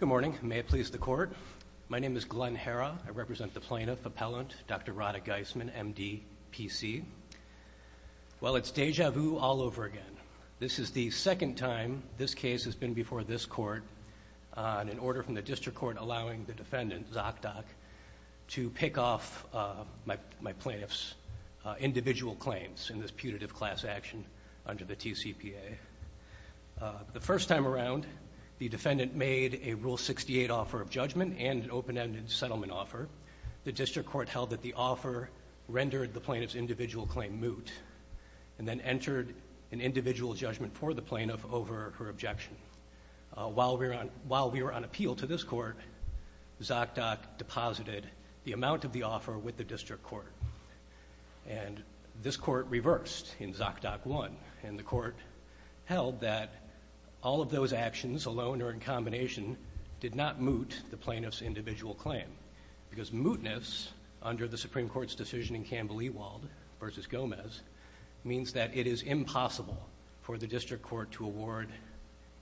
Good morning. May it please the Court. My name is Glenn Herra. I represent the plaintiff, Appellant Dr. Radha Geismann, MD, PC. Well, it's deja vu all over again. This is the second time this case has been before this court on an order from the District Court allowing the defendant, ZocDoc, to pick off my plaintiff's individual claims in this putative class action under the TCPA. The first time around, the defendant made a Rule 68 offer of judgment and an open-ended settlement offer. The District Court held that the offer rendered the plaintiff's individual claim moot and then entered an individual judgment for the plaintiff over her objection. While we were on appeal to this court, ZocDoc deposited the amount of the offer with the District Court. And this court reversed in ZocDoc 1, and the court held that all of those actions, alone or in combination, did not moot the plaintiff's individual claim. Because mootness, under the Supreme Court's decision in Campbell-Ewald v. Gomez, means that it is impossible for the District Court to award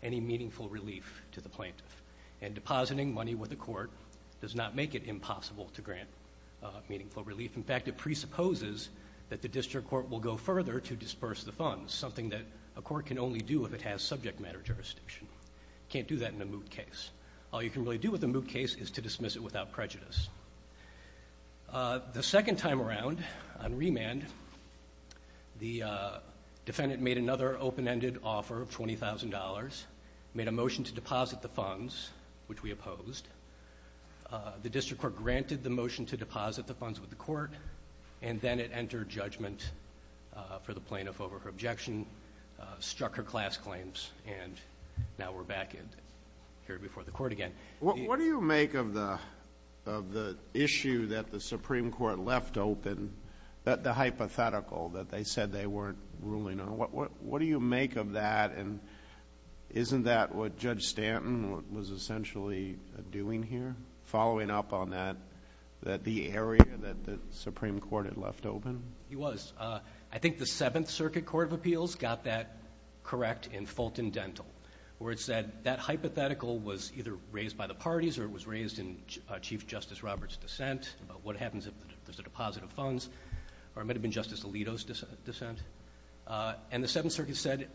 any meaningful relief to the plaintiff. And depositing money with the court does not make it impossible to grant meaningful relief. In fact, it presupposes that the District Court will go further to disperse the funds, something that a court can only do if it has subject matter jurisdiction. Can't do that in a moot case. All you can really do with a moot case is to dismiss it without prejudice. The second time around, on remand, the defendant made another open-ended offer of $20,000, made a motion to deposit the funds, which we opposed. The District Court granted the judgment for the plaintiff over her objection, struck her class claims, and now we're back here before the court again. What do you make of the issue that the Supreme Court left open, the hypothetical that they said they weren't ruling on? What do you make of that? And isn't that what Judge Stanton was essentially doing here, following up on that, that the area that the Supreme Court had left open? He was. I think the Seventh Circuit Court of Appeals got that correct in Fulton Dental, where it said that hypothetical was either raised by the parties or it was raised in Chief Justice Roberts' dissent about what happens if there's a deposit of funds, or it might have been Justice Alito's dissent. And the Seventh Circuit said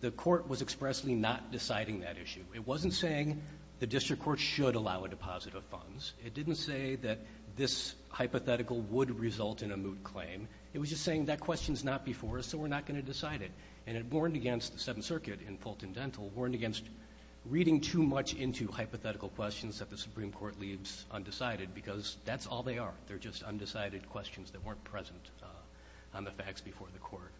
the court was expressly not deciding that issue. It wasn't saying the District Court should allow a deposit of funds. It didn't say that this hypothetical would result in a moot claim. It was just saying that question's not before us, so we're not going to decide it. And it warned against the Seventh Circuit in Fulton Dental, warned against reading too much into hypothetical questions that the Supreme Court leaves undecided, because that's all they are. They're just undecided questions that weren't present on the facts before the court.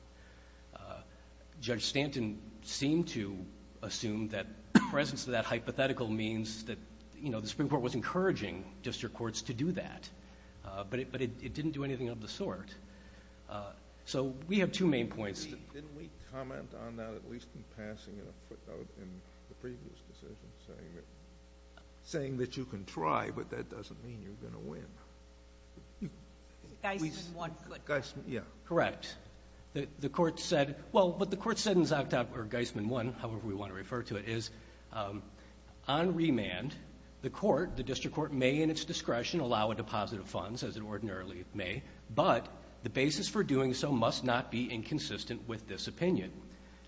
Judge Stanton seemed to assume that the presence of a deposit of funds would allow District Courts to do that. But it didn't do anything of the sort. So we have two main points. Didn't we comment on that, at least in passing, in a footnote in the previous decision, saying that you can try, but that doesn't mean you're going to win? Geisman 1. Correct. The court said, well, what the court said in Geisman 1, however we want to refer to it, is, on remand, the court, the District Court, may in its discretion allow a deposit of funds, as it ordinarily may, but the basis for doing so must not be inconsistent with this opinion.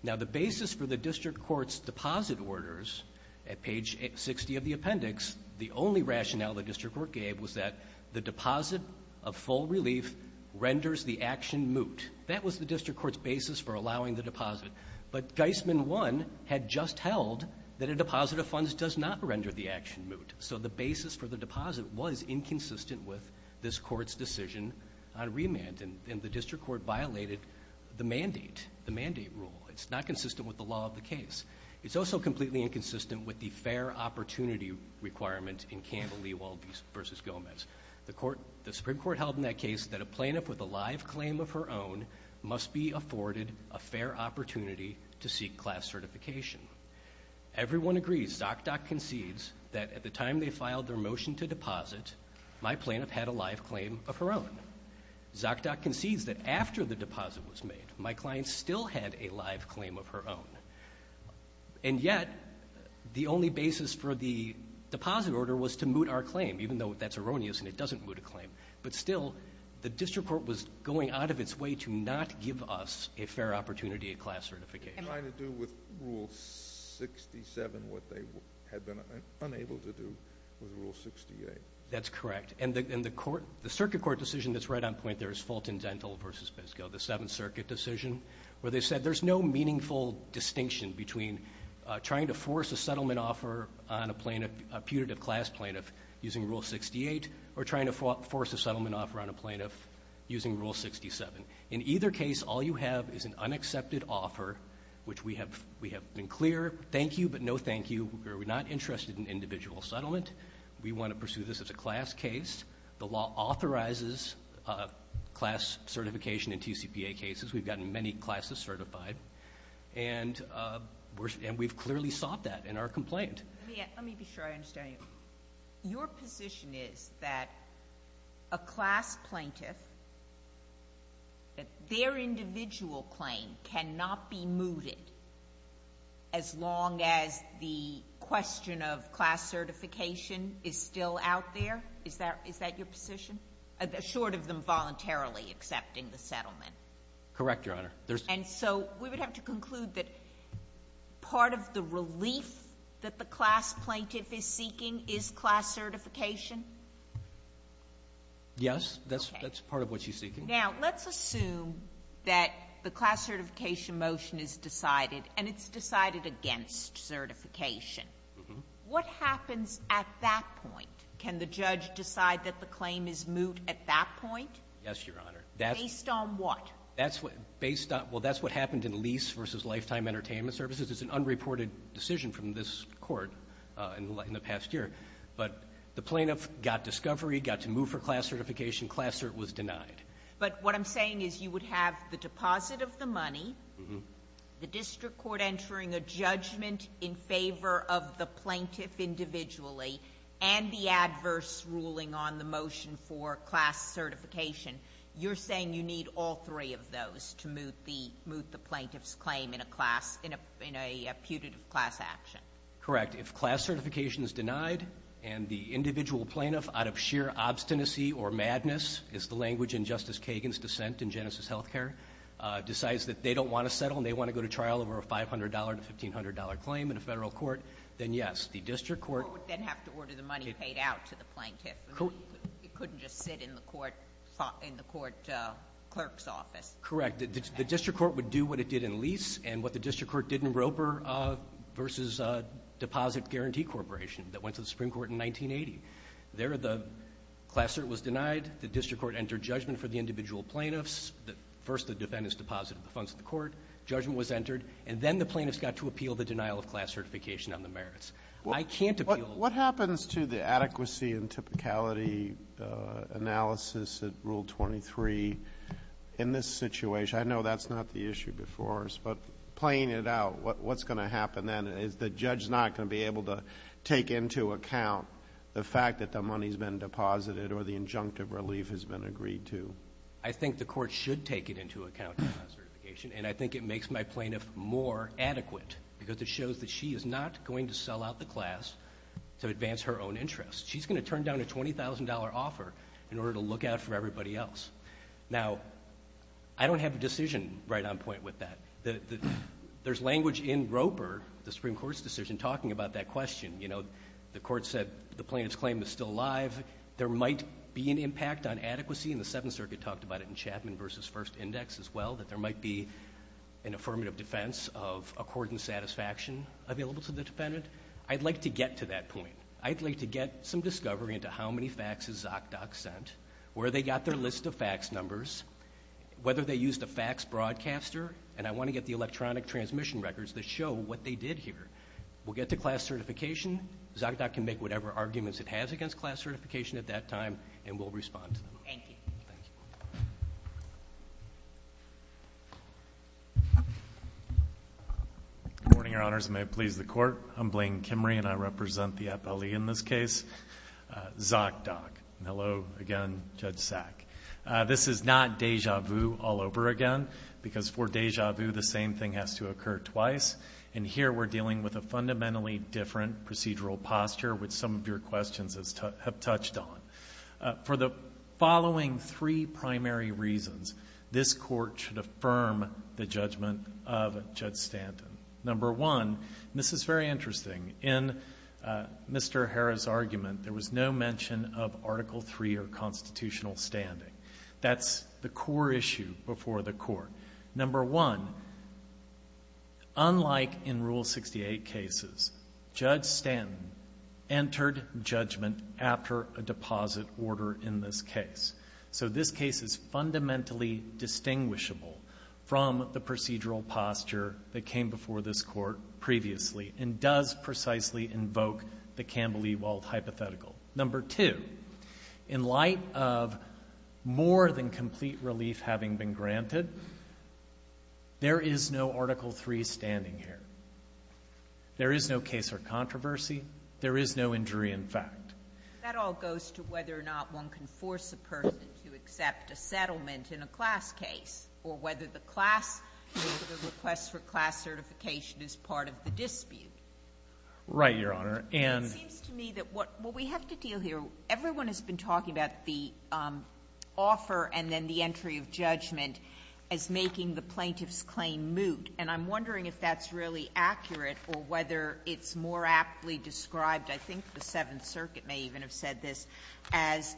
Now, the basis for the District Court's deposit orders at page 60 of the appendix, the only rationale the District Court gave was that the deposit of full relief renders the action moot. That was the District Court's basis for allowing the deposit. But Geisman 1 had just held that a deposit of funds does not render the action moot. So the basis for the deposit was inconsistent with this Court's decision on remand, and the District Court violated the mandate, the mandate rule. It's not consistent with the law of the case. It's also completely inconsistent with the fair opportunity requirement in Campbell-Lewald v. Gomez. The Supreme Court held in that case that a plaintiff with a live claim of her own must be afforded a fair opportunity to deposit. Everyone agrees, ZocDoc concedes, that at the time they filed their motion to deposit, my plaintiff had a live claim of her own. ZocDoc concedes that after the deposit was made, my client still had a live claim of her own. And yet, the only basis for the deposit order was to moot our claim, even though that's erroneous and it doesn't moot a claim. But still, the District Court was going out of its way to not give us a fair opportunity at class certification. Trying to do with Rule 67 what they had been unable to do with Rule 68. That's correct. And the Circuit Court decision that's right on point there is Fulton-Dental v. Biscoe, the Seventh Circuit decision, where they said there's no meaningful distinction between trying to force a settlement offer on a plaintiff, a putative class plaintiff, using Rule 68, or trying to force a settlement offer on a plaintiff using Rule 67. In either case, all you have is an unaccepted offer, which we have been clear, thank you, but no thank you. We're not interested in individual settlement. We want to pursue this as a class case. The law authorizes class certification in TCPA cases. We've gotten many classes certified. And we've clearly sought that in our complaint. Let me be sure I understand you. Your position is that a class plaintiff, that their individual claim cannot be mooted as long as the question of class certification is still out there? Is that your position? Short of them voluntarily accepting the settlement? Correct, Your Honor. And so we would have to conclude that part of the relief that the class plaintiff is seeking is class certification? Yes. Okay. That's part of what she's seeking. Now, let's assume that the class certification motion is decided, and it's decided against certification. What happens at that point? Can the judge decide that the claim is moot at that point? Yes, Your Honor. Based on what? That's what – based on – well, that's what happened in Lease v. Lifetime Entertainment Services. It's an unreported decision from this Court in the past year. But the plaintiff got discovery, got to move for class certification. Class cert was denied. But what I'm saying is you would have the deposit of the money, the district court entering a judgment in favor of the plaintiff individually, and the adverse ruling on the motion for class certification. You're saying you need all three of those to moot the plaintiff's claim in a class – in a putative class action? Correct. If class certification is denied and the individual plaintiff, out of sheer obstinacy or madness, is the language in Justice Kagan's dissent in Genesis Healthcare, decides that they don't want to settle and they want to go to trial over a $500 to $1,500 claim in a federal court, then yes, the district court – Well, it would then have to order the money paid out to the plaintiff. It couldn't just sit in the court – in the court clerk's office. Correct. The district court would do what it did in lease and what the district court did in Roper v. Deposit Guarantee Corporation that went to the Supreme Court in 1980. There, the class cert was denied. The district court entered judgment for the individual plaintiffs. First, the defendants deposited the funds to the court. Judgment was entered. And then the plaintiffs got to appeal the denial of class certification on the merits. I can't appeal – What happens to the adequacy and typicality analysis at Rule 23 in this situation? I know that's not the issue before us, but playing it out, what's going to happen then? Is the judge not going to be able to take into account the fact that the money's been deposited or the injunctive relief has been agreed to? I think the court should take it into account, class certification, and I think it makes my plaintiff more adequate because it shows that she is not going to sell out the class to advance her own interests. She's going to turn down a $20,000 offer in order to look out for everybody else. Now, I don't have a decision right on point with that. There's language in Roper, the Supreme Court's decision, talking about that question. You know, the court said the plaintiff's claim is still alive. There might be an impact on adequacy, and the Seventh Circuit talked about it in Chapman v. First Index as well, that there might be an affirmative defense of accordance satisfaction available to the defendant. I'd like to get to that point. I'd like to get some discovery into how many faxes Zokdok sent, where they got their list of fax numbers, whether they used a fax broadcaster, and I want to get the electronic transmission records that show what they did here. We'll get to class certification. Zokdok can make whatever arguments it has against class certification at that time, and we'll respond to them. Thank you. Thank you. Good morning, Your Honors, and may it please the Court. I'm Blaine Kimrey, and I represent the appellee in this case, Zokdok. Hello again, Judge Sack. This is not deja vu all over again, because for deja vu, the same thing has to occur twice, and here we're dealing with a fundamentally different procedural posture, which some of your questions have touched on. For the following three primary reasons, this Court should affirm the judgment of Judge Stanton. Number one, and this is very interesting, in Mr. Harrah's argument, there was no mention of Article III or constitutional standing. That's the core issue before the Court. Number one, unlike in Rule 68 cases, Judge Stanton entered judgment after a deposit order in this case. So this case is fundamentally distinguishable from the procedural posture that came before this Court previously, and does precisely invoke the Campbell-Ewald hypothetical. Number two, in light of more than complete relief having been granted, there is no Article III standing here. There is no case or controversy. There is no injury in fact. That all goes to whether or not one can force a person to accept a settlement in a class case, or whether the class or the request for class certification is part of the dispute. Right, Your Honor. And — It seems to me that what we have to deal here, everyone has been talking about the offer and then the entry of judgment as making the plaintiff's claim moot, and I'm wondering if that's really accurate, or whether it's more aptly described, I think the Seventh Circuit may even have said this, as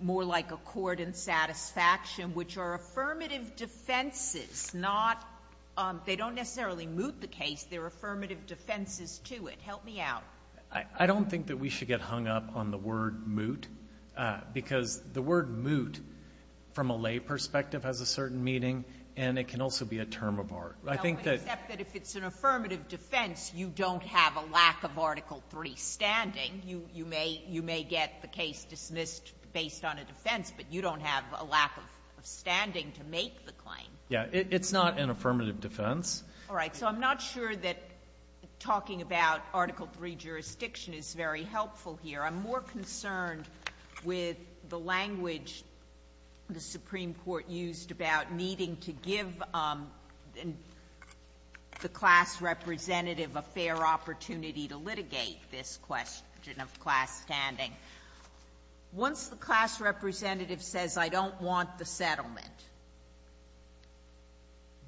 more like a court in satisfaction, which are affirmative defenses, not — they don't necessarily moot the case, they're affirmative defenses to it. Help me out. I don't think that we should get hung up on the word moot, because the word moot, from a lay perspective, has a certain meaning, and it can also be a term of art. I think Okay. Except that if it's an affirmative defense, you don't have a lack of Article III standing. You may get the case dismissed based on a defense, but you don't have a lack of standing to make the claim. Yeah. It's not an affirmative defense. All right. So I'm not sure that talking about Article III jurisdiction is very helpful here. I'm more concerned with the language the Supreme Court used about needing to give the class representative a fair opportunity to litigate this question of class standing. Once the class representative says, I don't want the settlement,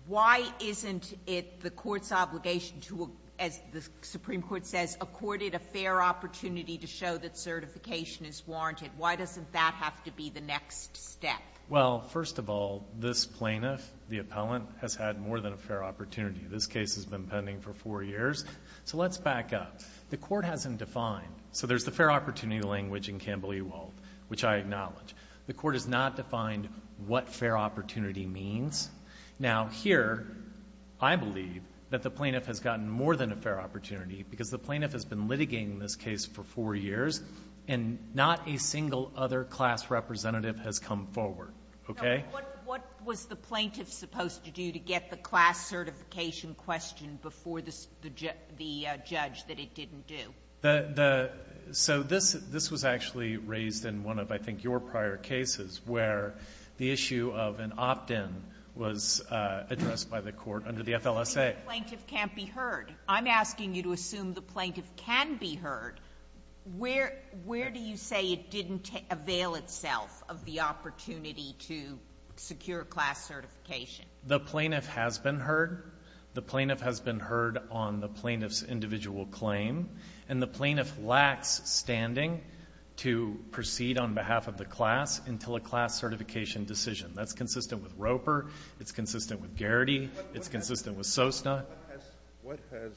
why isn't it the court's obligation to, as the Supreme Court says, accord it a fair opportunity to show that certification is warranted? Why doesn't that have to be the next step? Well, first of all, this plaintiff, the appellant, has had more than a fair opportunity. This case has been pending for four years. So let's back up. The court hasn't defined. So there's the fair opportunity language in Campbell-Ewald, which I acknowledge. The court has not defined what fair opportunity means. Now, here, I believe that the plaintiff has gotten more than a fair opportunity, because the plaintiff has been litigating this case for four years, and not a single other class representative has come forward. Okay? Sotomayor What was the plaintiff supposed to do to get the class certification question before the judge that it didn't do? Fisher So this was actually raised in one of, I think, your prior cases, where the issue of an opt-in was addressed by the court under the FLSA. Sotomayor The plaintiff can't be heard. I'm asking you to assume the plaintiff can be heard. Where do you say it didn't avail itself of the opportunity to secure a class certification? Fisher The plaintiff has been heard. The plaintiff has been heard on the plaintiff's individual claim. And the plaintiff lacks standing to proceed on behalf of the class until a class certification decision. That's consistent with Roper. It's consistent with Garrity. It's consistent with Sosna. Sotomayor What has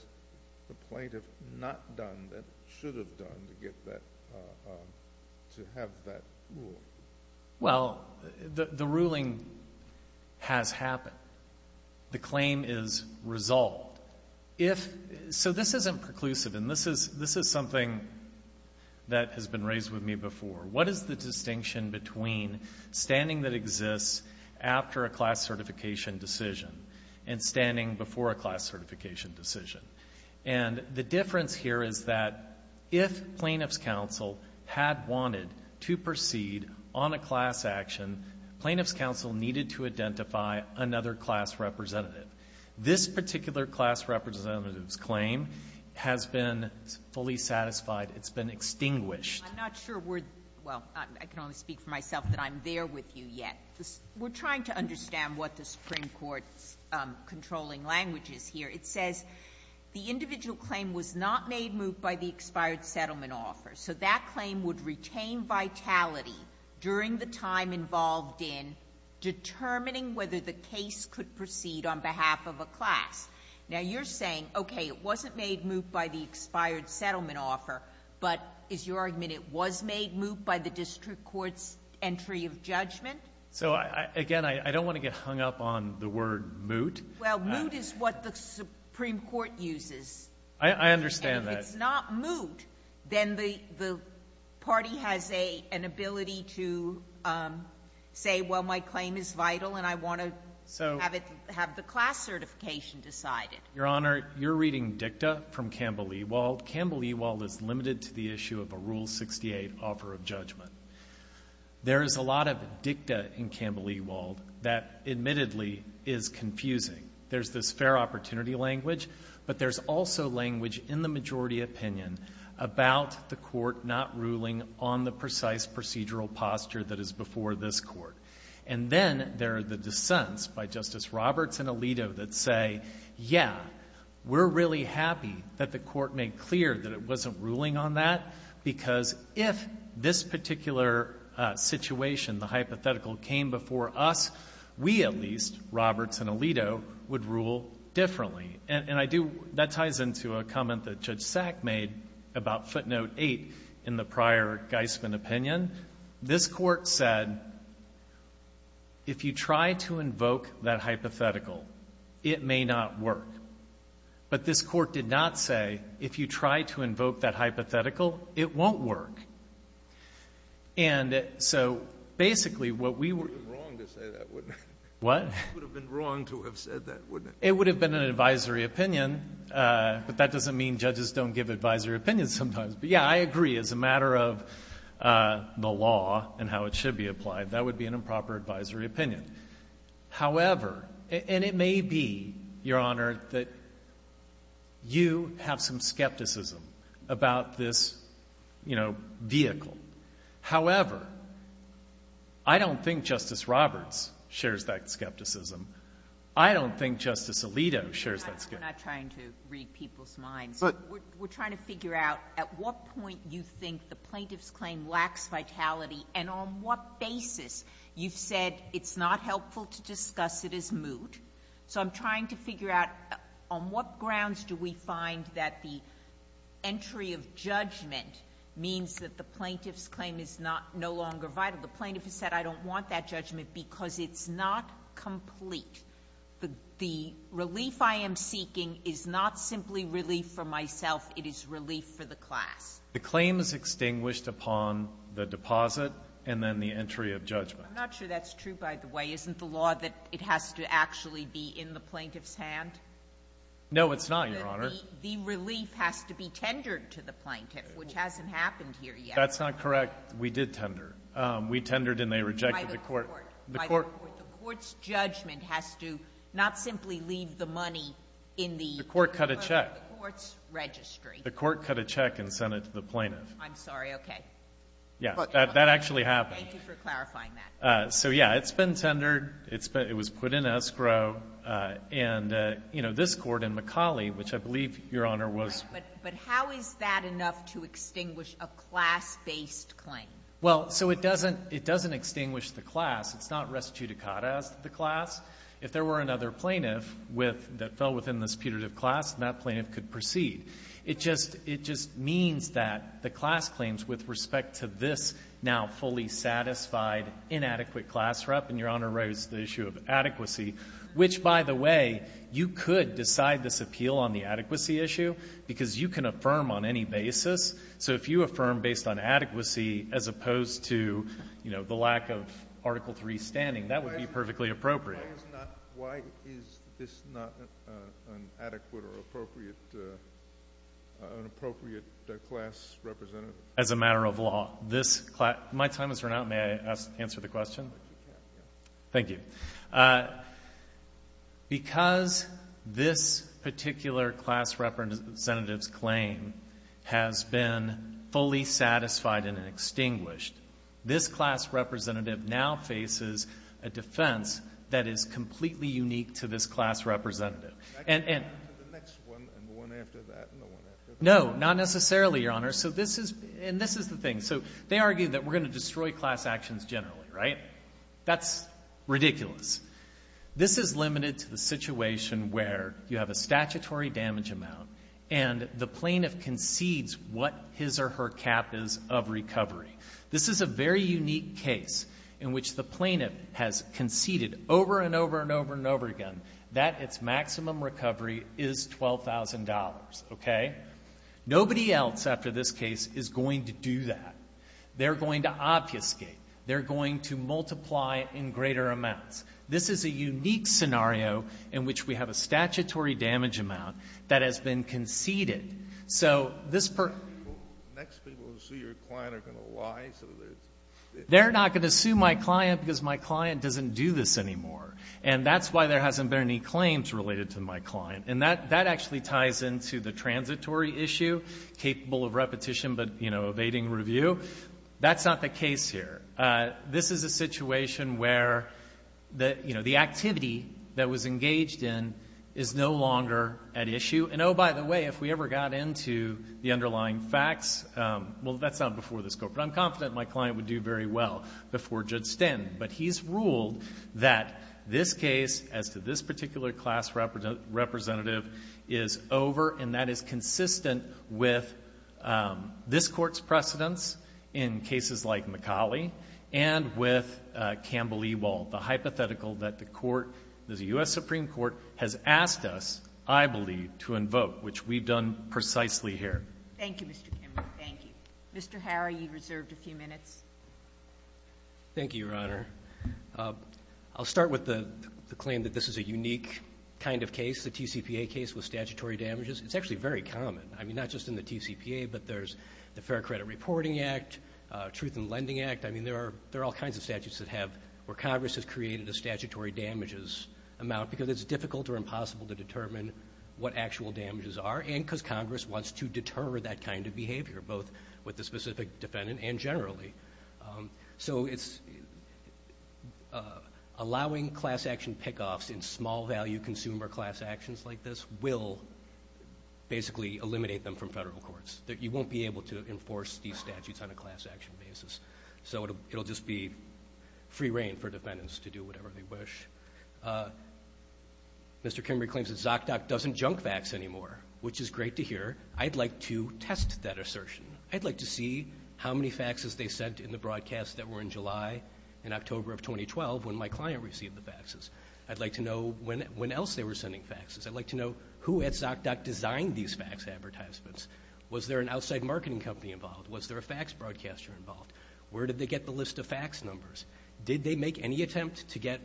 the plaintiff not done that it should have done to get that, to have that rule? Fisher Well, the ruling has happened. The claim is resolved. If — so this isn't preclusive, and this is something that has been raised with me before. What is the difference here is that if plaintiff's counsel had wanted to proceed on a class action, plaintiff's counsel needed to identify another class representative. This particular class representative's claim has been fully satisfied. It's been extinguished. Sotomayor I'm not sure we're — well, I can only speak for myself that I'm there with you yet. We're trying to understand what the Supreme Court's controlling language is here. It says the individual claim was not made moot by the expired settlement offer. So that claim would retain vitality during the time involved in determining whether the case could proceed on behalf of a class. Now, you're saying, okay, it wasn't made moot by the expired settlement offer, but is your argument it was made moot by the district court's entry of judgment? Fisher So, again, I don't want to get hung up on the word moot. Sotomayor Well, moot is what the Supreme Court uses. Fisher I understand that. Sotomayor And if it's not moot, then the party has an ability to say, well, my claim is vital and I want to have the class certification decided. Your Honor, you're reading dicta from Campbell-Ewald. Campbell-Ewald is limited to the issue of a Rule 68 offer of judgment. There is a lot of dicta in Campbell-Ewald that admittedly is confusing. There's this fair opportunity language, but there's also language in the majority opinion about the court not ruling on the precise procedural posture that is before this court. And then there are the dissents by Justice Roberts and Alito that say, yeah, we're really happy that the court made clear that it wasn't ruling on that because if this particular situation, the hypothetical, came before us, we at least, Roberts and Alito, would rule differently. And I do — that ties into a comment that Judge Sack made about footnote 8 in the prior Geisman opinion. This court said, if you try to invoke that hypothetical, it may not work. But this court did not say, if you try to invoke that hypothetical, it won't work. And so, basically, what we were — It would have been wrong to say that, wouldn't it? What? It would have been wrong to have said that, wouldn't it? It would have been an advisory opinion, but that doesn't mean judges don't give advisory opinions sometimes. But, yeah, I agree, as a matter of the law and how it should be applied, that would be an improper advisory opinion. However — and it may be, Your Honor, that you have some skepticism about this, you know, vehicle. However, I don't think Justice Roberts shares that skepticism. I don't think Justice Alito shares that skepticism. We're not trying to read people's minds. But — We're trying to figure out at what point you think the plaintiff's claim lacks vitality and on what basis you've said it's not helpful to discuss it as moot. So I'm trying to figure out on what grounds do we find that the entry of judgment means that the plaintiff's claim is not — no longer vital. The plaintiff has said, I don't want that judgment because it's not complete. The relief I am seeking is not simply relief for myself. It is relief for the class. The claim is extinguished upon the deposit and then the entry of judgment. I'm not sure that's true, by the way. Isn't the law that it has to actually be in the plaintiff's hand? No, it's not, Your Honor. The relief has to be tendered to the plaintiff, which hasn't happened here yet. That's not correct. We did tender. We tendered and they rejected the court. By the court. The court — The court's judgment has to not simply leave the money in the — The court cut a check. The court's registry. The court cut a check and sent it to the plaintiff. I'm sorry. Okay. Yeah. But — That actually happened. Thank you for clarifying that. So, yeah, it's been tendered. It's been — it was put in escrow. And, you know, this court in Macaulay, which I believe, Your Honor, was — But how is that enough to extinguish a class-based claim? Well, so it doesn't — it doesn't extinguish the class. It's not res judicata as to the class. If there were another plaintiff with — that fell within this putative class, that plaintiff could proceed. It just — it just means that the class claims with respect to this now fully satisfied, inadequate class rep — and Your Honor raised the issue of adequacy, which, by the way, you could decide this appeal on the adequacy issue because you can affirm on any basis. So if you affirm based on adequacy as opposed to, you know, the lack of Article III standing, that would be perfectly appropriate. Why is not — why is this not an adequate or appropriate — an appropriate class representative? As a matter of law, this — my time has run out. May I answer the question? Thank you. Okay. Because this particular class representative's claim has been fully satisfied and extinguished, this class representative now faces a defense that is completely unique to this class representative. And — Back to the next one and the one after that and the one after that. No, not necessarily, Your Honor. So this is — and this is the thing. So they argue that we're going to destroy class actions generally, right? That's ridiculous. This is limited to the situation where you have a statutory damage amount and the plaintiff concedes what his or her cap is of recovery. This is a very unique case in which the plaintiff has conceded over and over and over and over again that its maximum recovery is $12,000, okay? Nobody else after this case is going to do that. They're going to obfuscate. They're going to multiply in greater amounts. This is a unique scenario in which we have a statutory damage amount that has been conceded. So this — Next people who sue your client are going to lie so that — They're not going to sue my client because my client doesn't do this anymore. And that's why there hasn't been any claims related to my client. And that actually ties into the transitory issue, capable of repetition but, you know, evading review. That's not the case here. This is a situation where, you know, the activity that was engaged in is no longer at issue. And, oh, by the way, if we ever got into the underlying facts — well, that's not before this Court, but I'm confident my client would do very well before Judge Sten. But he's ruled that this case, as to this particular class representative, is over. And that is consistent with this Court's precedents in cases like McCauley and with Campbell-Ewald, the hypothetical that the Court — the U.S. Supreme Court has asked us, I believe, to invoke, which we've done precisely here. Thank you, Mr. Kimball. Thank you. Mr. Harry, you've reserved a few minutes. Thank you, Your Honor. I'll start with the claim that this is a unique kind of case. It's a TCPA case with statutory damages. It's actually very common. I mean, not just in the TCPA, but there's the Fair Credit Reporting Act, Truth in Lending Act. I mean, there are all kinds of statutes that have — where Congress has created a statutory damages amount because it's difficult or impossible to determine what actual damages are and because Congress wants to deter that kind of behavior, both with the specific defendant and generally. So it's — allowing class action pick-offs in small-value consumer class actions like this will basically eliminate them from federal courts. You won't be able to enforce these statutes on a class action basis. So it'll just be free reign for defendants to do whatever they wish. Mr. Kimberley claims that ZocDoc doesn't junk fax anymore, which is great to hear. I'd like to test that assertion. I'd like to see how many faxes they sent in the broadcasts that were in July and October of 2012 when my client received the faxes. I'd like to know when else they were sending faxes. I'd like to know who at ZocDoc designed these fax advertisements. Was there an outside marketing company involved? Was there a fax broadcaster involved? Where did they get the list of fax numbers? Did they make any attempt to get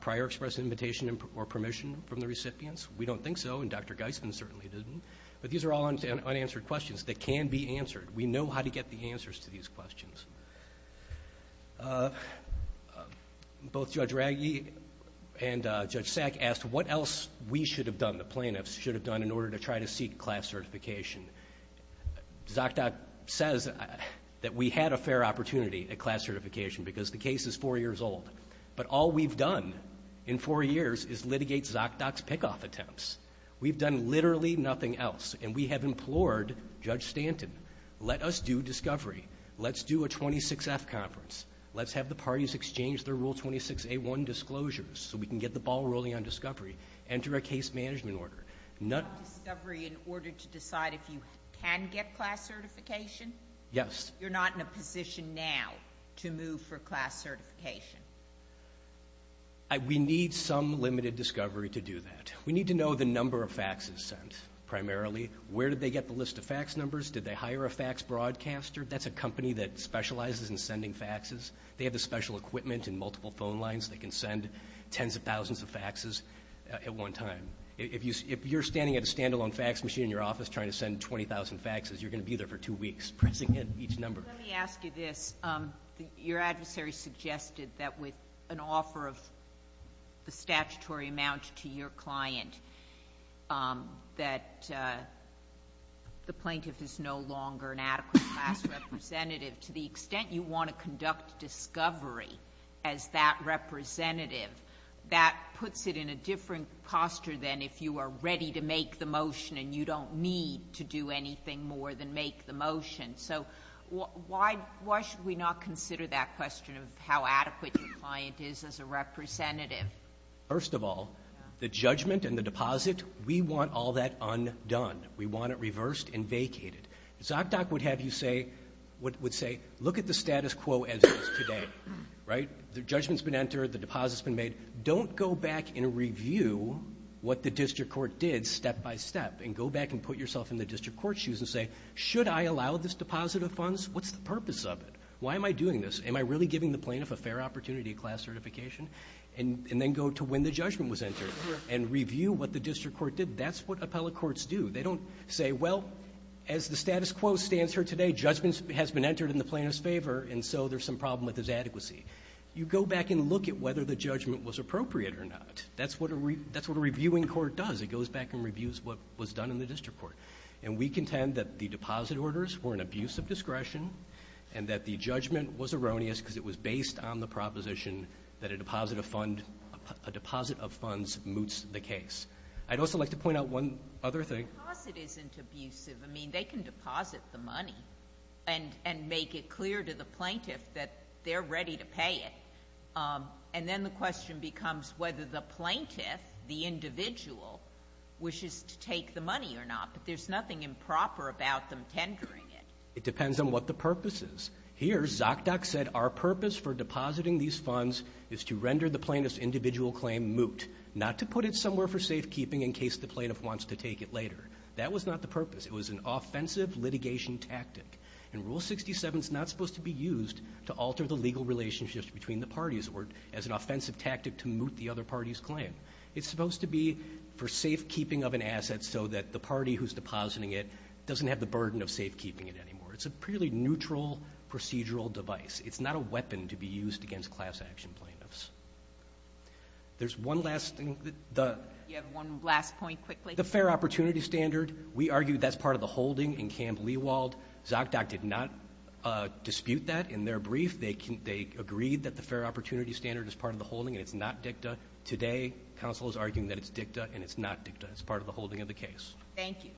prior express invitation or permission from the recipients? We don't think so, and Dr. Geisman certainly didn't. But these are all unanswered questions that can be answered. We know how to get the answers to these questions. Both Judge Ragge and Judge Sack asked what else we should have done, the plaintiffs should have done, in order to try to seek class certification. ZocDoc says that we had a fair opportunity at class certification because the case is four years old. But all we've done in four years is litigate ZocDoc's pick-off attempts. We've done literally nothing else, and we have implored Judge Stanton, let us do discovery. Let's do a 26F conference. Let's have the parties exchange their Rule 26A1 disclosures so we can get the ball rolling on discovery. Enter a case management order. Not discovery in order to decide if you can get class certification? Yes. You're not in a position now to move for class certification? We need some limited discovery to do that. We need to know the number of faxes sent, primarily. Where did they get the list of fax numbers? Did they hire a fax broadcaster? That's a company that specializes in sending faxes. They have the special equipment and multiple phone lines that can send tens of thousands of faxes at one time. If you're standing at a stand-alone fax machine in your office trying to send 20,000 faxes, you're going to be there for two weeks pressing in each number. Let me ask you this. Your adversary suggested that with an offer of the statutory amount to your client that the plaintiff is no longer an adequate class representative. To the extent you want to conduct discovery as that representative, that puts it in a different posture than if you are ready to make the motion and you don't need to do anything more than make the motion. So why should we not consider that question of how adequate your client is as a representative? First of all, the judgment and the deposit, we want all that undone. We want it reversed and vacated. ZocDoc would have you say, look at the status quo as it is today. The judgment's been entered. The deposit's been made. Don't go back and review what the district court did step-by-step and go back and put yourself in the district court's shoes and say, should I allow this deposit of funds? What's the purpose of it? Why am I doing this? Am I really giving the plaintiff a fair opportunity of class certification? And then go to when the judgment was entered and review what the district court did. That's what appellate courts do. They don't say, well, as the status quo stands here today, judgment has been entered in the plaintiff's favor and so there's some problem with his adequacy. You go back and look at whether the judgment was appropriate or not. That's what a reviewing court does. It goes back and reviews what was done in the district court. And we contend that the deposit orders were an abuse of discretion and that the judgment was erroneous because it was based on the proposition that a deposit of funds moots the case. I'd also like to point out one other thing. A deposit isn't abusive. I mean, they can deposit the money and make it clear to the plaintiff that they're ready to pay it. And then the question becomes whether the plaintiff, the individual, wishes to take the money or not. But there's nothing improper about them tendering it. It depends on what the purpose is. Here, Zokdok said our purpose for depositing these funds is to render the plaintiff's individual claim moot, not to put it somewhere for safekeeping in case the plaintiff wants to take it later. That was not the purpose. It was an offensive litigation tactic. And Rule 67 is not supposed to be used to alter the legal relationships between the parties or as an offensive tactic to moot the other party's claim. It's supposed to be for safekeeping of an asset so that the party who's depositing it doesn't have the burden of safekeeping it anymore. It's a purely neutral procedural device. It's not a weapon to be used against class action plaintiffs. There's one last thing. You have one last point, quickly. The fair opportunity standard, we argue that's part of the holding in Camp Leewald. Zokdok did not dispute that in their brief. They agreed that the fair opportunity standard is part of the holding and it's not dicta. Today, counsel is arguing that it's dicta and it's not dicta. It's part of the holding of the case. Thank you.